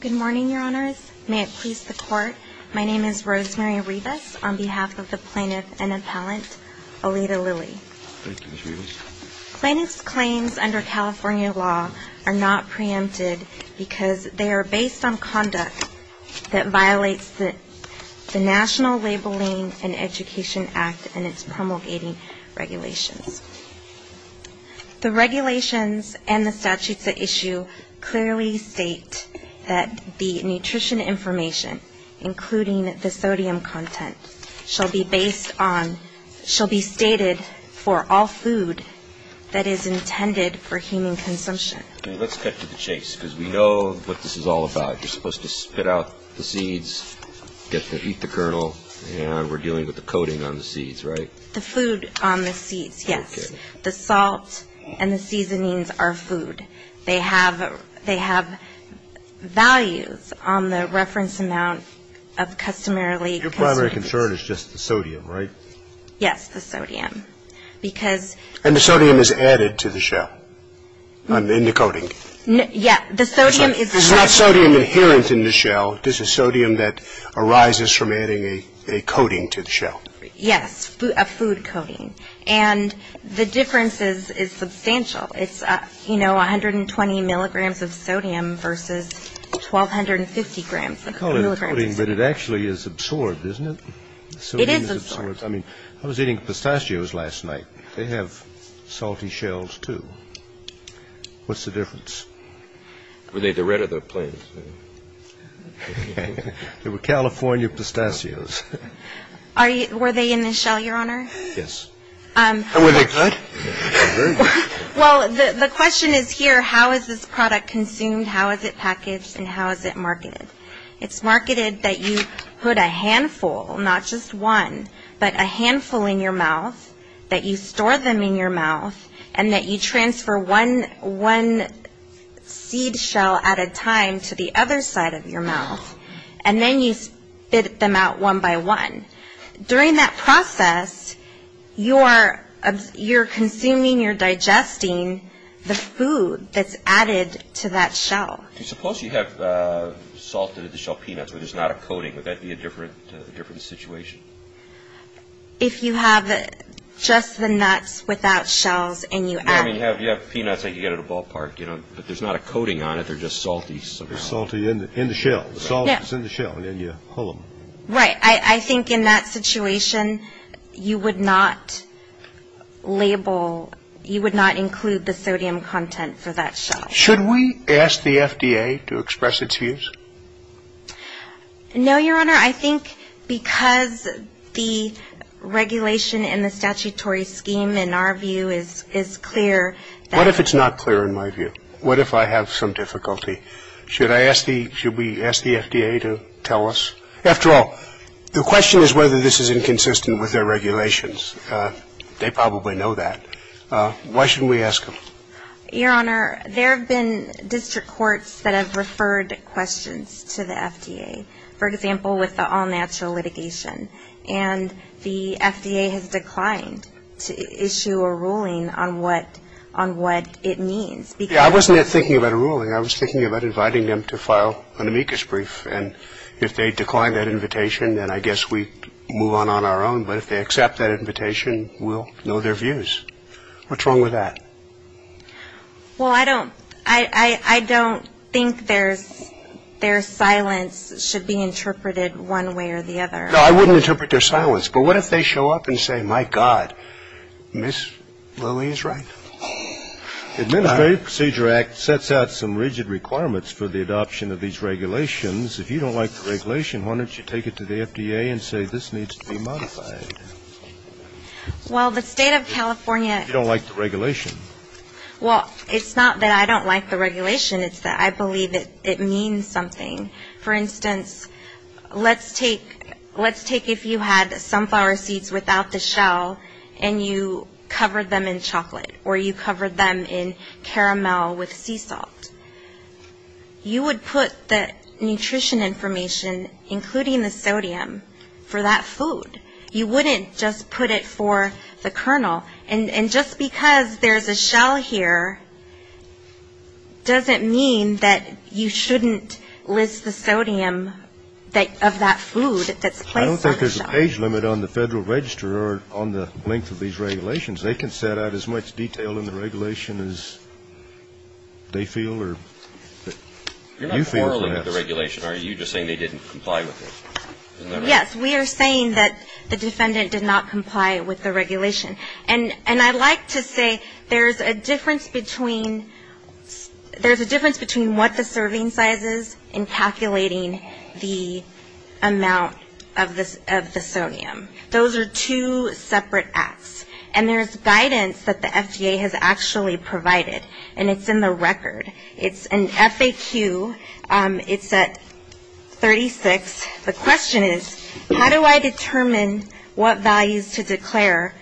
Good morning, Your Honors. May it please the Court, my name is Rosemary Rivas on behalf of the Plaintiff and Appellant Aleta Lilly. Plaintiff's claims under California law are not preempted because they are based on conduct that violates the National Labeling and Education Act and its promulgating regulations. The regulations and the statutes at issue clearly state that the nutrition information, including the sodium content, shall be based on, shall be stated for all food that is intended for human consumption. Let's cut to the chase because we know what this is all about. You're supposed to spit out the seeds, get to eat the kernel, and we're dealing with the coating on the seeds, right? The food on the seeds, yes. The salt and the seasonings are food. They have values on the reference amount of customarily consumed foods. Your primary concern is just the sodium, right? Yes, the sodium. Because And the sodium is added to the shell, in the coating. Yes. The sodium is It's not sodium inherent in the shell. This is sodium that arises from adding a coating to the shell. Yes, a food coating. And the difference is substantial. It's, you know, 120 milligrams of sodium versus 1250 grams of sodium. I call it a coating, but it actually is absorbed, isn't it? It is absorbed. Sodium is absorbed. I mean, I was eating pistachios last night. They have salty shells, too. What's the difference? Well, they're the red of the plant. They were California pistachios. Were they in the shell, Your Honor? Yes. And were they good? Very good. Well, the question is here, how is this product consumed, how is it packaged, and how is it marketed? It's marketed that you put a handful, not just one, but a handful in your mouth, that you store them in your mouth, and that you transfer one seed shell at a time to the other side of your mouth, and then you spit them out one by one. During that process, you're consuming, you're digesting the food that's added to that shell. Suppose you have salted-to-the-shell peanuts, but there's not a coating. Would that be a different situation? If you have just the nuts without shells and you add... I mean, you have peanuts that you get at a ballpark, you know, but there's not a coating on it. They're just salty somehow. They're salty in the shell. The salt is in the shell, and then you pull them. Right. I think in that situation, you would not label, you would not include the sodium content for that shell. Should we ask the FDA to express its views? No, Your Honor. I think because the regulation in the statutory scheme, in our view, is clear... What if it's not clear in my view? What if I have some difficulty? Should I ask the, should we ask the FDA to tell us? After all, the question is whether this is inconsistent with their regulations. They probably know that. Why shouldn't we ask them? Your Honor, there have been district courts that have referred questions to the FDA. For example, with the all-natural litigation, and the FDA has declined to issue a ruling on what it means. Yeah, I wasn't thinking about a ruling. I was thinking about inviting them to file an amicus brief, and if they decline that invitation, then I guess we move on on our own. But if they accept that invitation, we'll know their views. What's wrong with that? Well, I don't think their silence should be interpreted one way or the other. No, I wouldn't interpret their silence. But what if they show up and say, my God, Ms. Lilly is right. Administrative Procedure Act sets out some rigid requirements for the adoption of these regulations. If you don't like the regulation, why don't you take it to the FDA and say this needs to be modified? Well, the state of California... You don't like the regulation. Well, it's not that I don't like the regulation. It's that I believe it means something. For instance, let's take if you had sunflower seeds without the shell, and you covered them in chocolate, or you covered them in caramel with sea salt. You would put the nutrition information, including the sodium, for that food. You wouldn't just put it for the kernel. And just because there's a shell here doesn't mean that you shouldn't list the sodium of that food that's placed on the shell. I don't think there's a page limit on the Federal Register or on the length of these regulations. They can set out as much detail in the regulation as they feel or you feel perhaps. You're not quarreling with the regulation, are you? You're just saying they didn't comply with it. Yes, we are saying that the defendant did not comply with the regulation. And I'd like to say there's a difference between what the serving size is in calculating the amount of the sodium. Those are two separate acts. And there's guidance that the FDA has actually provided, and it's in the record. It's an FAQ. It's at 36. The question is, how do I determine what values to declare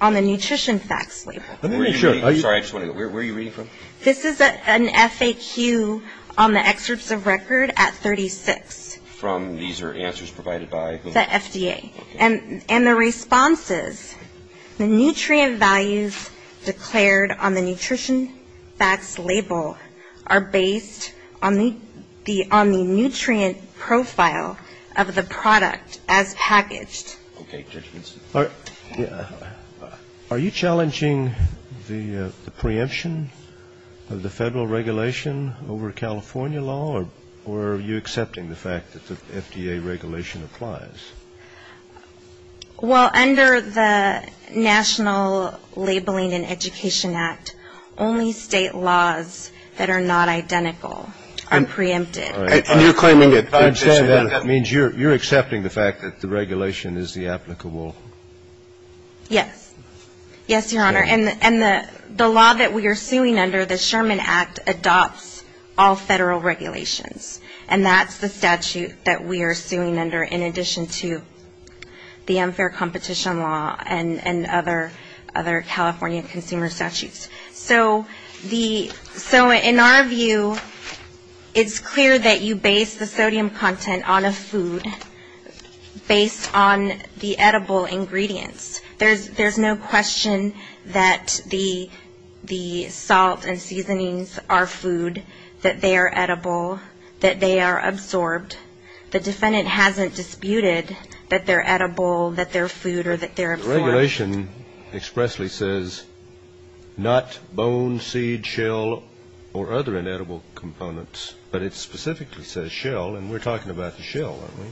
on the nutrition facts label? I'm sorry, I just want to know, where are you reading from? This is an FAQ on the excerpts of record at 36. From? These are answers provided by who? The FDA. Okay. And the response is, the nutrient values declared on the nutrition facts label are based on the nutrient profile of the product as packaged. Okay. Are you challenging the preemption of the federal regulation over California law, or are you accepting the fact that the FDA regulation applies? Well, under the National Labeling and Education Act, only state laws that are not identical are preempted. And you're claiming that that means you're accepting the fact that the regulation is the applicable? Yes. Yes, Your Honor. And the law that we are suing under, the Sherman Act, adopts all federal regulations. And that's the statute that we are suing under, in addition to the unfair competition law and other California consumer statutes. So in our view, it's clear that you base the sodium content on a food, based on the edible ingredients. There's no question that the salt and seasonings are food, that they are edible, that they are absorbed. The defendant hasn't disputed that they're edible, that they're food, or that they're absorbed. The regulation expressly says, not bone, seed, shell, or other inedible components, but it specifically says shell, and we're talking about the shell, aren't we?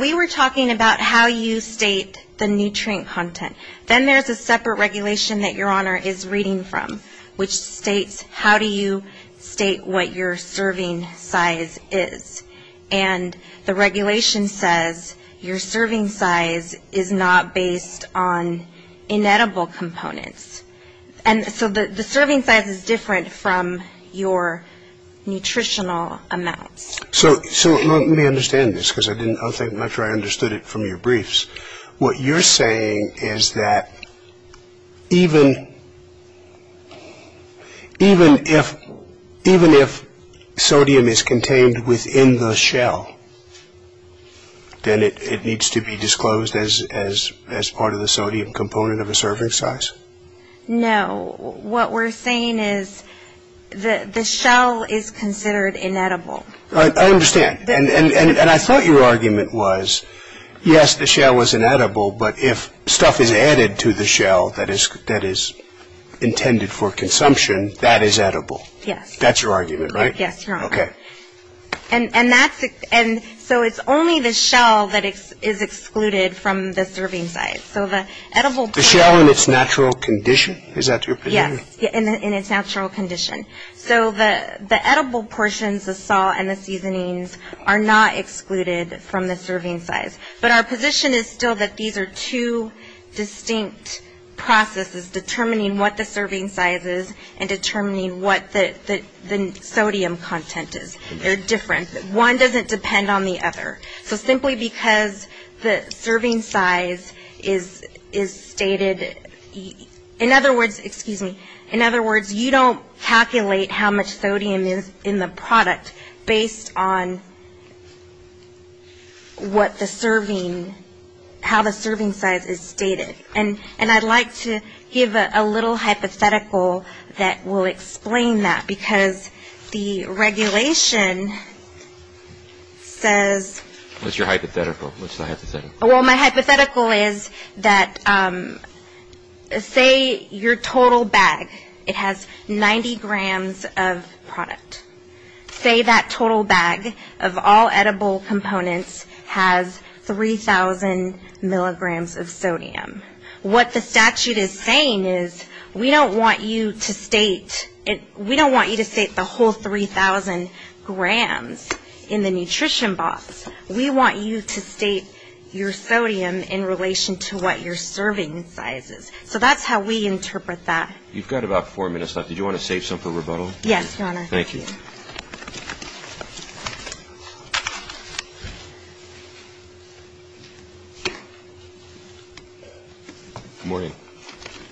We were talking about how you state the nutrient content. Then there's a separate regulation that Your Honor is reading from, which states how do you state what your serving size is. And the regulation says your serving size is not based on inedible components. And so the serving size is different from your nutritional amounts. So let me understand this, because I didn't think much or I understood it from your briefs. What you're saying is that even if sodium is contained within the shell, then it needs to be disclosed as part of the sodium component of a serving size? No. What we're saying is the shell is considered inedible. I understand. And I thought your argument was, yes, the shell was inedible, but if stuff is added to the shell that is intended for consumption, that is edible. Yes. That's your argument, right? Yes, Your Honor. Okay. And so it's only the shell that is excluded from the serving size. The shell in its natural condition? Is that your position? Yes, in its natural condition. So the edible portions, the salt and the seasonings, are not excluded from the serving size. But our position is still that these are two distinct processes determining what the serving size is and determining what the sodium content is. They're different. One doesn't depend on the other. So simply because the serving size is stated, in other words, excuse me, in other words, you don't calculate how much sodium is in the product based on what the serving, how the serving size is stated. And I'd like to give a little hypothetical that will explain that. Because the regulation says. What's your hypothetical? What's the hypothetical? Well, my hypothetical is that say your total bag, it has 90 grams of product. Say that total bag of all edible components has 3,000 milligrams of sodium. What the statute is saying is we don't want you to state the whole 3,000 grams in the nutrition box. We want you to state your sodium in relation to what your serving size is. So that's how we interpret that. You've got about four minutes left. Did you want to save some for rebuttal? Yes, Your Honor. Thank you. Good morning.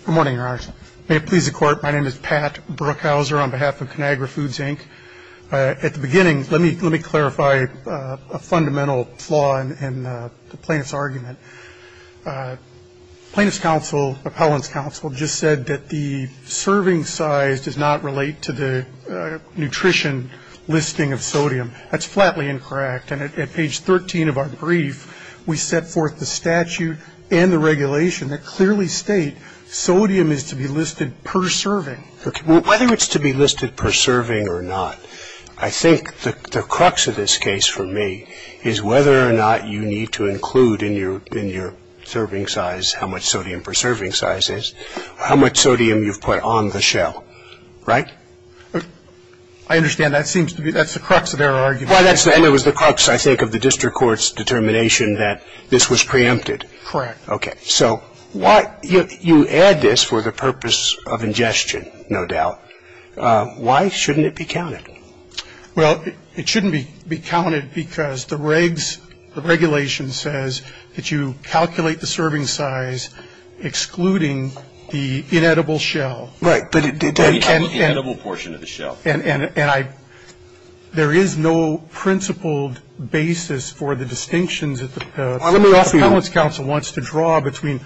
Good morning, Your Honor. May it please the Court. My name is Pat Brookhauser on behalf of ConAgra Foods, Inc. At the beginning, let me clarify a fundamental flaw in the plaintiff's argument. Plaintiff's counsel, appellant's counsel, just said that the serving size does not relate to the nutrition listing of sodium. That's flatly incorrect. And at page 13 of our brief, we set forth the statute and the regulation that clearly state sodium is to be listed per serving. Whether it's to be listed per serving or not, I think the crux of this case for me is whether or not you need to include in your serving size how much sodium per serving size is, how much sodium you've put on the shell. Right? I understand. That's the crux of their argument. And it was the crux, I think, of the district court's determination that this was preempted. Correct. Okay. So you add this for the purpose of ingestion, no doubt. Why shouldn't it be counted? Well, it shouldn't be counted because the regulation says that you calculate the serving size excluding the inedible shell. Right. The inedible portion of the shell. And there is no principled basis for the distinctions that the appellant's counsel wants to draw between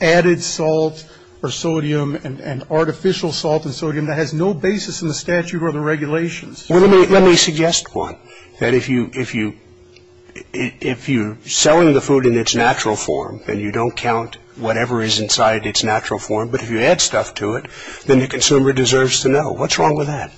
added salt or sodium and artificial salt and sodium that has no basis in the statute or the regulations. Let me suggest one, that if you're selling the food in its natural form and you don't count whatever is inside its natural form, but if you add stuff to it, then the consumer deserves to know. What's wrong with that?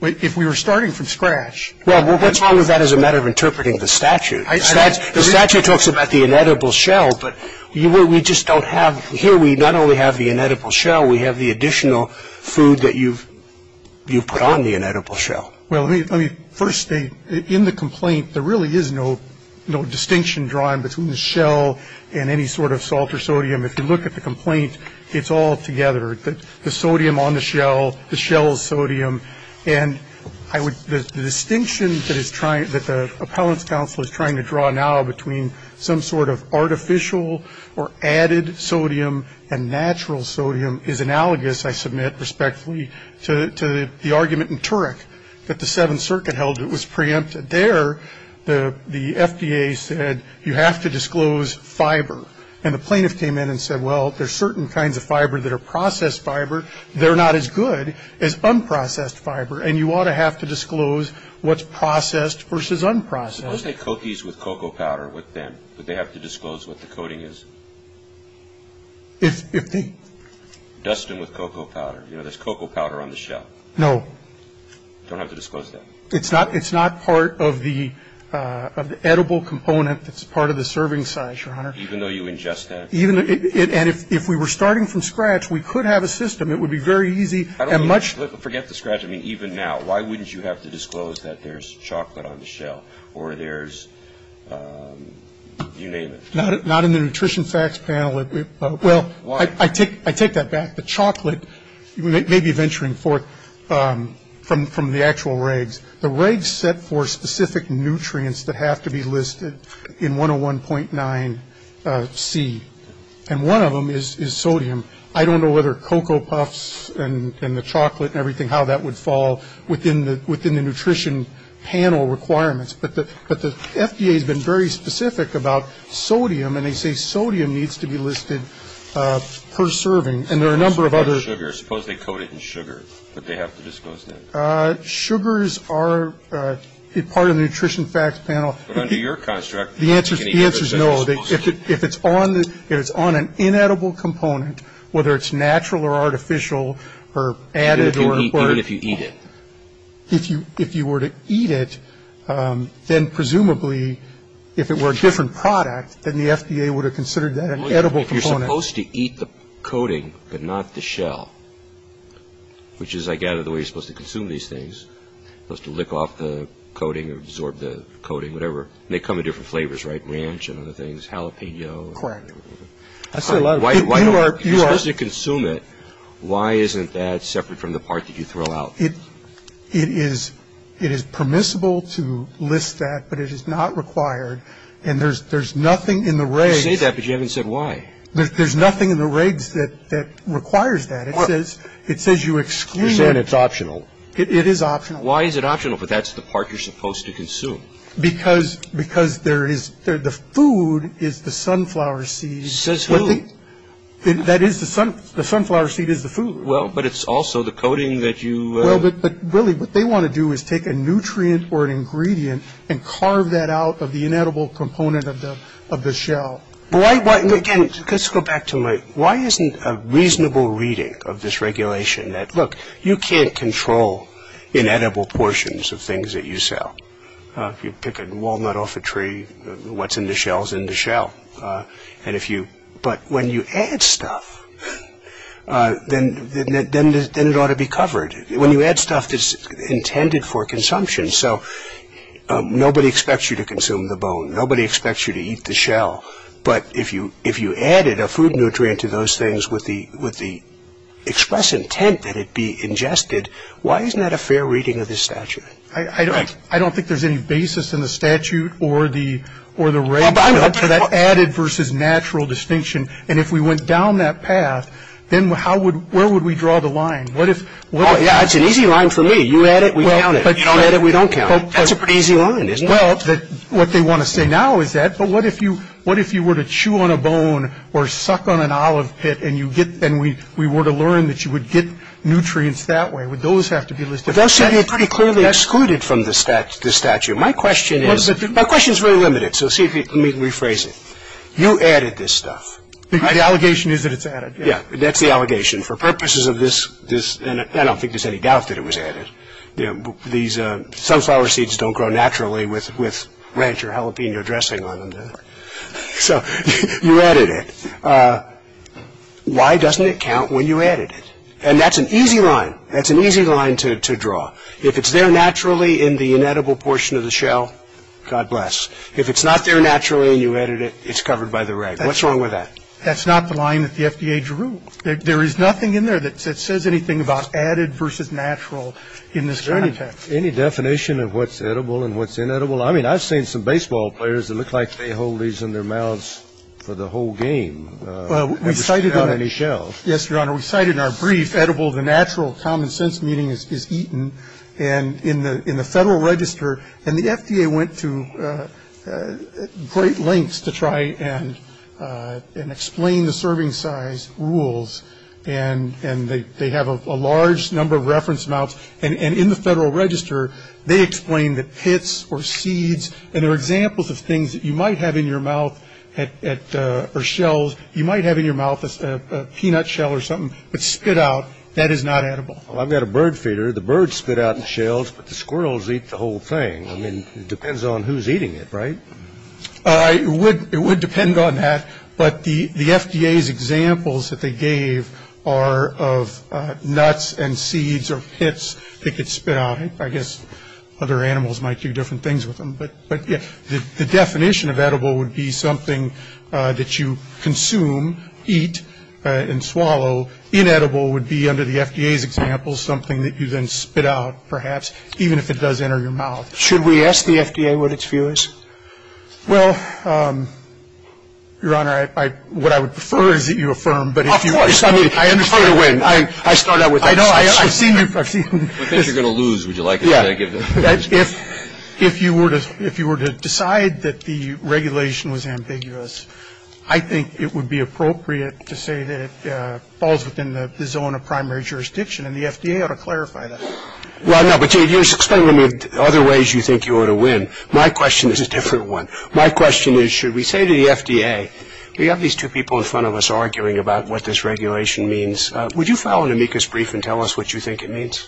If we were starting from scratch. Well, what's wrong with that as a matter of interpreting the statute? The statute talks about the inedible shell, but we just don't have, here we not only have the inedible shell, we have the additional food that you've put on the inedible shell. Well, let me first state, in the complaint, there really is no distinction drawn between the shell and any sort of salt or sodium. If you look at the complaint, it's all together. The sodium on the shell, the shell's sodium, and the distinction that the appellant's counsel is trying to draw now between some sort of artificial or added sodium and natural sodium is analogous, I submit respectfully, to the argument in Turek that the Seventh Circuit held it was preempted. There, the FDA said, you have to disclose fiber. And the plaintiff came in and said, well, there's certain kinds of fiber that are processed fiber, they're not as good as unprocessed fiber, and you ought to have to disclose what's processed versus unprocessed. Unless they coat these with cocoa powder, what then? Would they have to disclose what the coating is? If the... Dust them with cocoa powder. You know, there's cocoa powder on the shell. No. Don't have to disclose that. It's not part of the edible component that's part of the serving size, Your Honor. Even though you ingest that? And if we were starting from scratch, we could have a system. It would be very easy and much... Forget the scratch. I mean, even now, why wouldn't you have to disclose that there's chocolate on the shell? Or there's... You name it. Not in the nutrition facts panel. Well, I take that back. The chocolate, you may be venturing forth from the actual regs. The regs set for specific nutrients that have to be listed in 101.9C. And one of them is sodium. I don't know whether cocoa puffs and the chocolate and everything, how that would fall within the nutrition panel requirements. But the FDA has been very specific about sodium. And they say sodium needs to be listed per serving. And there are a number of other... Suppose they coat it in sugar. Would they have to disclose that? Sugars are part of the nutrition facts panel. But under your construct... The answer is no. If it's on an inedible component, whether it's natural or artificial or added or... Even if you eat it? If you were to eat it, then presumably, if it were a different product, then the FDA would have considered that an edible component. You're supposed to eat the coating, but not the shell. Which is, I gather, the way you're supposed to consume these things. You're supposed to lick off the coating or absorb the coating, whatever. And they come in different flavors, right? Ranch and other things, jalapeno. Correct. I say a lot of... If you're supposed to consume it, why isn't that separate from the part that you throw out? It is permissible to list that, but it is not required. And there's nothing in the regs... You say that, but you haven't said why. There's nothing in the regs that requires that. It says you exclude it. You're saying it's optional. It is optional. Why is it optional if that's the part you're supposed to consume? Because the food is the sunflower seeds. Says who? The food. That is the... The sunflower seed is the food. Well, but it's also the coating that you... Well, but really, what they want to do is take a nutrient or an ingredient and carve that out of the inedible component of the shell. Why... Again, let's go back to my... Why isn't a reasonable reading of this regulation that, look, you can't control inedible portions of things that you sell? If you pick a walnut off a tree, what's in the shell is in the shell. And if you... But when you add stuff, then it ought to be covered. When you add stuff, it's intended for consumption. So nobody expects you to consume the bone. Nobody expects you to eat the shell. But if you added a food nutrient to those things with the express intent that it be ingested, why isn't that a fair reading of this statute? I don't think there's any basis in the statute or the regs... ...for that added versus natural distinction. And if we went down that path, then where would we draw the line? What if... Oh, yeah, it's an easy line for me. You add it, we count it. You don't add it, we don't count it. That's a pretty easy line, isn't it? Well, what they want to say now is that, but what if you were to chew on a bone or suck on an olive pit and we were to learn that you would get nutrients that way? Would those have to be listed? Those should be pretty clearly excluded from the statute. My question is... Let me rephrase it. You added this stuff. The allegation is that it's added. Yeah, that's the allegation. For purposes of this... And I don't think there's any doubt that it was added. These sunflower seeds don't grow naturally with ranch or jalapeno dressing on them. So you added it. Why doesn't it count when you added it? And that's an easy line. That's an easy line to draw. If it's there naturally in the inedible portion of the shell, God bless. If it's not there naturally and you added it, it's covered by the rag. What's wrong with that? That's not the line that the FDA drew. There is nothing in there that says anything about added versus natural in this context. Any definition of what's edible and what's inedible? I mean, I've seen some baseball players that look like they hold these in their mouths for the whole game. Well, we cited... Without any shells. Yes, Your Honor. We cited in our brief, edible, the natural, common sense meaning is eaten. And in the Federal Register, and the FDA went to great lengths to try and explain the serving size rules. And they have a large number of reference amounts. And in the Federal Register, they explain that pits or seeds, and there are examples of things that you might have in your mouth or shells, you might have in your mouth a peanut shell or something, but spit out, that is not edible. Well, I've got a bird feeder. The birds spit out the shells, but the squirrels eat the whole thing. I mean, it depends on who's eating it, right? It would depend on that. But the FDA's examples that they gave are of nuts and seeds or pits that get spit out. I guess other animals might do different things with them. But the definition of edible would be something that you consume, eat, and swallow. Inedible would be, under the FDA's example, something that you then spit out, perhaps, even if it does enter your mouth. Should we ask the FDA what its view is? Well, Your Honor, what I would prefer is that you affirm. Of course. I mean, it's hard to win. I start out with that. I know. I've seen you. I think you're going to lose. Would you like to give it? Yeah. If you were to decide that the regulation was ambiguous, I think it would be appropriate to say that it falls within the zone of primary jurisdiction, and the FDA ought to clarify that. Well, no, but you're explaining to me other ways you think you ought to win. My question is a different one. My question is, should we say to the FDA, we have these two people in front of us arguing about what this regulation means. Would you file an amicus brief and tell us what you think it means?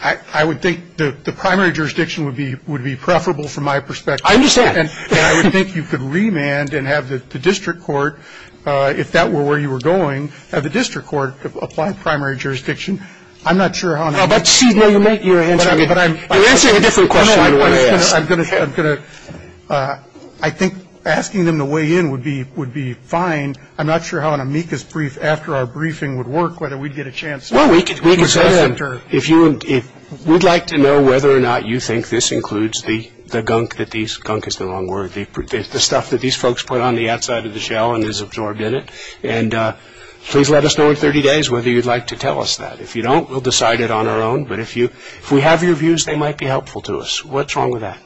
I would think the primary jurisdiction would be preferable from my perspective. I understand. And I would think you could remand and have the district court, if that were where you were going, have the district court apply primary jurisdiction. I'm not sure how. But, you know, you're answering a different question than what I asked. I think asking them to weigh in would be fine. I'm not sure how an amicus brief after our briefing would work, whether we'd get a chance. Well, we could say that. We'd like to know whether or not you think this includes the gunk, gunk is the wrong word, the stuff that these folks put on the outside of the shell and is absorbed in it. And please let us know in 30 days whether you'd like to tell us that. If you don't, we'll decide it on our own. But if we have your views, they might be helpful to us. What's wrong with that?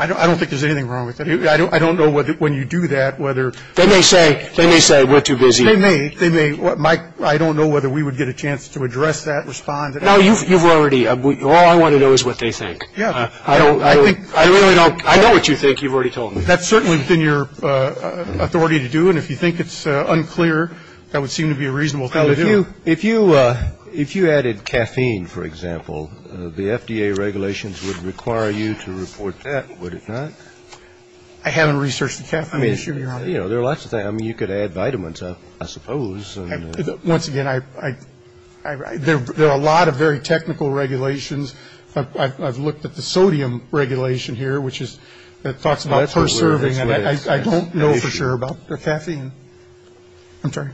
I don't think there's anything wrong with that. I don't know whether when you do that, whether. They may say, we're too busy. They may. I don't know whether we would get a chance to address that, respond to that. No, you've already. All I want to know is what they think. Yeah. I don't. I really don't. I know what you think. You've already told me. That's certainly within your authority to do. And if you think it's unclear, that would seem to be a reasonable thing to do. If you added caffeine, for example, the FDA regulations would require you to report that, would it not? I haven't researched the caffeine issue, Your Honor. I mean, you know, there are lots of things. I mean, you could add vitamins, I suppose. Once again, there are a lot of very technical regulations. I've looked at the sodium regulation here, which talks about per serving. I don't know for sure about the caffeine. I'm sorry.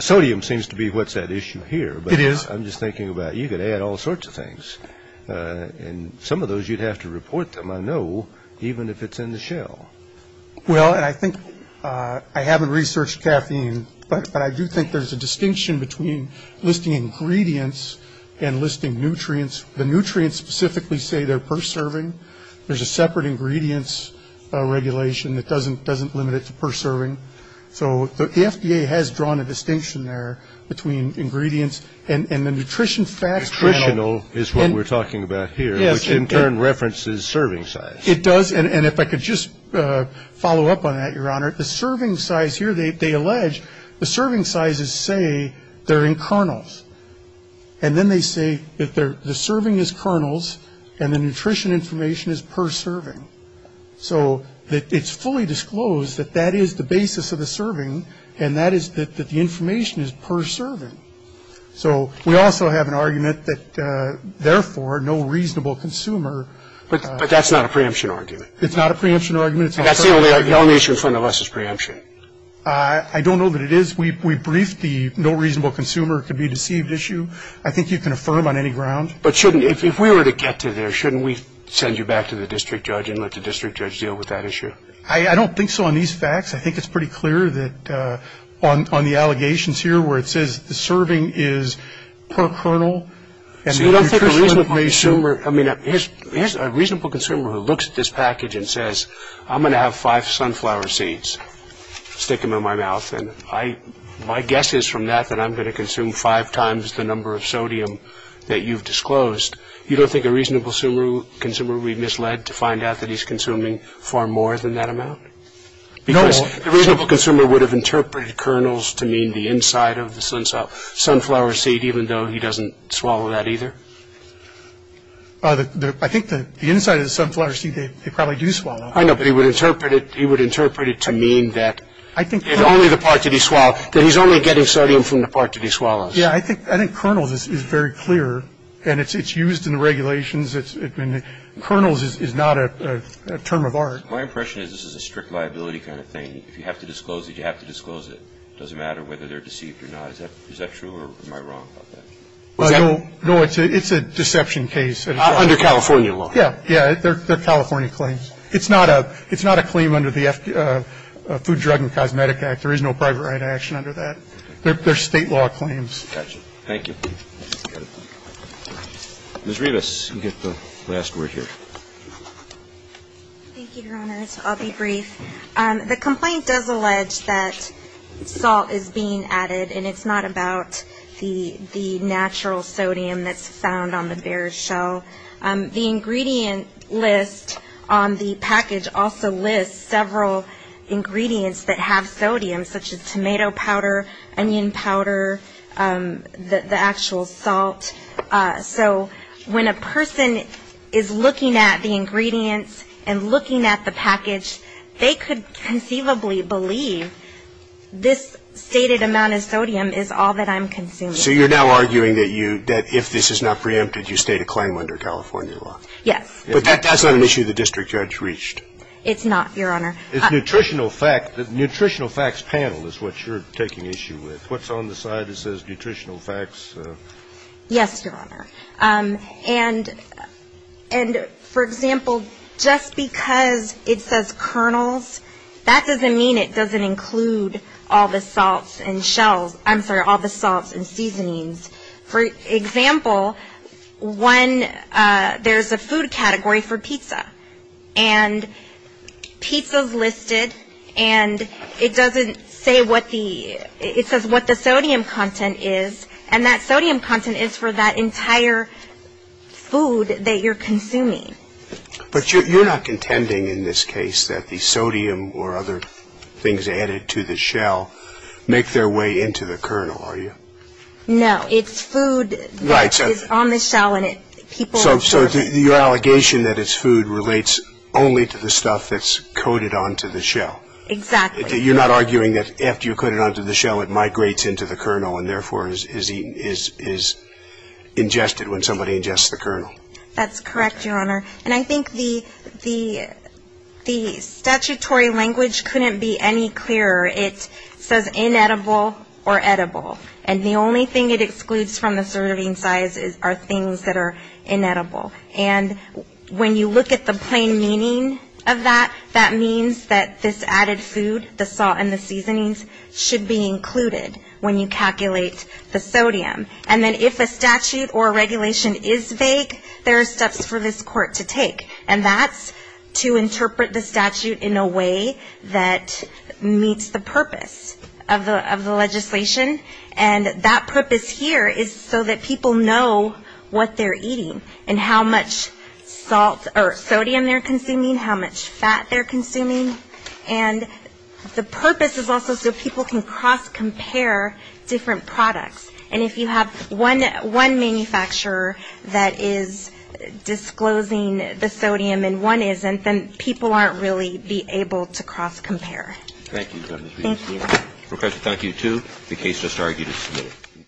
Sodium seems to be what's at issue here. It is. I'm just thinking about you could add all sorts of things. And some of those, you'd have to report them, I know, even if it's in the shell. Well, and I think I haven't researched caffeine, but I do think there's a distinction between listing ingredients and listing nutrients. The nutrients specifically say they're per serving. There's a separate ingredients regulation that doesn't limit it to per serving. So the FDA has drawn a distinction there between ingredients and the nutrition facts. Nutritional is what we're talking about here, which in turn references serving size. It does. And if I could just follow up on that, Your Honor. The serving size here, they allege the serving sizes say they're in kernels. And then they say that the serving is kernels and the nutrition information is per serving. So it's fully disclosed that that is the basis of the serving, and that is that the information is per serving. So we also have an argument that, therefore, no reasonable consumer. But that's not a preemption argument. It's not a preemption argument. That's the only issue in front of us is preemption. I don't know that it is. We briefed the no reasonable consumer. It could be a deceived issue. I think you can affirm on any ground. But if we were to get to there, shouldn't we send you back to the district judge and let the district judge deal with that issue? I don't think so on these facts. I think it's pretty clear that on the allegations here where it says the serving is per kernel. See, I don't think a reasonable consumer. I mean, here's a reasonable consumer who looks at this package and says, I'm going to have five sunflower seeds, stick them in my mouth. And my guess is from that that I'm going to consume five times the number of sodium that you've disclosed. You don't think a reasonable consumer would be misled to find out that he's consuming far more than that amount? Because a reasonable consumer would have interpreted kernels to mean the inside of the sunflower seed, even though he doesn't swallow that either? I think the inside of the sunflower seed, they probably do swallow. I know, but he would interpret it to mean that it's only the part that he swallows, that he's only getting sodium from the part that he swallows. Yeah, I think kernels is very clear, and it's used in the regulations. Kernels is not a term of art. My impression is this is a strict liability kind of thing. If you have to disclose it, you have to disclose it. It doesn't matter whether they're deceived or not. Is that true, or am I wrong about that? No, it's a deception case. Under California law? Yeah, they're California claims. It's not a claim under the Food, Drug, and Cosmetic Act. There is no private right action under that. They're State law claims. Thank you. Ms. Rivas, you get the last word here. Thank you, Your Honors. I'll be brief. The complaint does allege that salt is being added, and it's not about the natural sodium that's found on the bear's shell. The ingredient list on the package also lists several ingredients that have sodium, such as tomato powder, onion powder, the actual salt. So when a person is looking at the ingredients and looking at the package, they could conceivably believe this stated amount of sodium is all that I'm consuming. So you're now arguing that if this is not preempted, you state a claim under California law? Yes. But that's not an issue the district judge reached. It's not, Your Honor. The nutritional facts panel is what you're taking issue with. What's on the side that says nutritional facts? Yes, Your Honor. And, for example, just because it says kernels, that doesn't mean it doesn't include all the salts and shells. I'm sorry, all the salts and seasonings. For example, when there's a food category for pizza, and pizza's listed, and it doesn't say what the ‑‑ it says what the sodium content is, and that sodium content is for that entire food that you're consuming. But you're not contending in this case that the sodium or other things added to the shell make their way into the kernel, are you? No. It's food that is on the shell, and it ‑‑ So your allegation that it's food relates only to the stuff that's coated onto the shell. Exactly. You're not arguing that after you put it onto the shell, it migrates into the kernel and therefore is ingested when somebody ingests the kernel. That's correct, Your Honor. And I think the statutory language couldn't be any clearer. It says inedible or edible. And the only thing it excludes from the serving size are things that are inedible. And when you look at the plain meaning of that, that means that this added food, the salt and the seasonings, should be included when you calculate the sodium. And then if a statute or a regulation is vague, there are steps for this court to take. And that's to interpret the statute in a way that meets the purpose of the legislation. And that purpose here is so that people know what they're eating and how much salt or sodium they're consuming, how much fat they're consuming. And the purpose is also so people can cross-compare different products. And if you have one manufacturer that is disclosing the sodium and one isn't, then people aren't really be able to cross-compare. Thank you, Justice Breyer. Thank you. Professor, thank you too. The case just argued is submitted.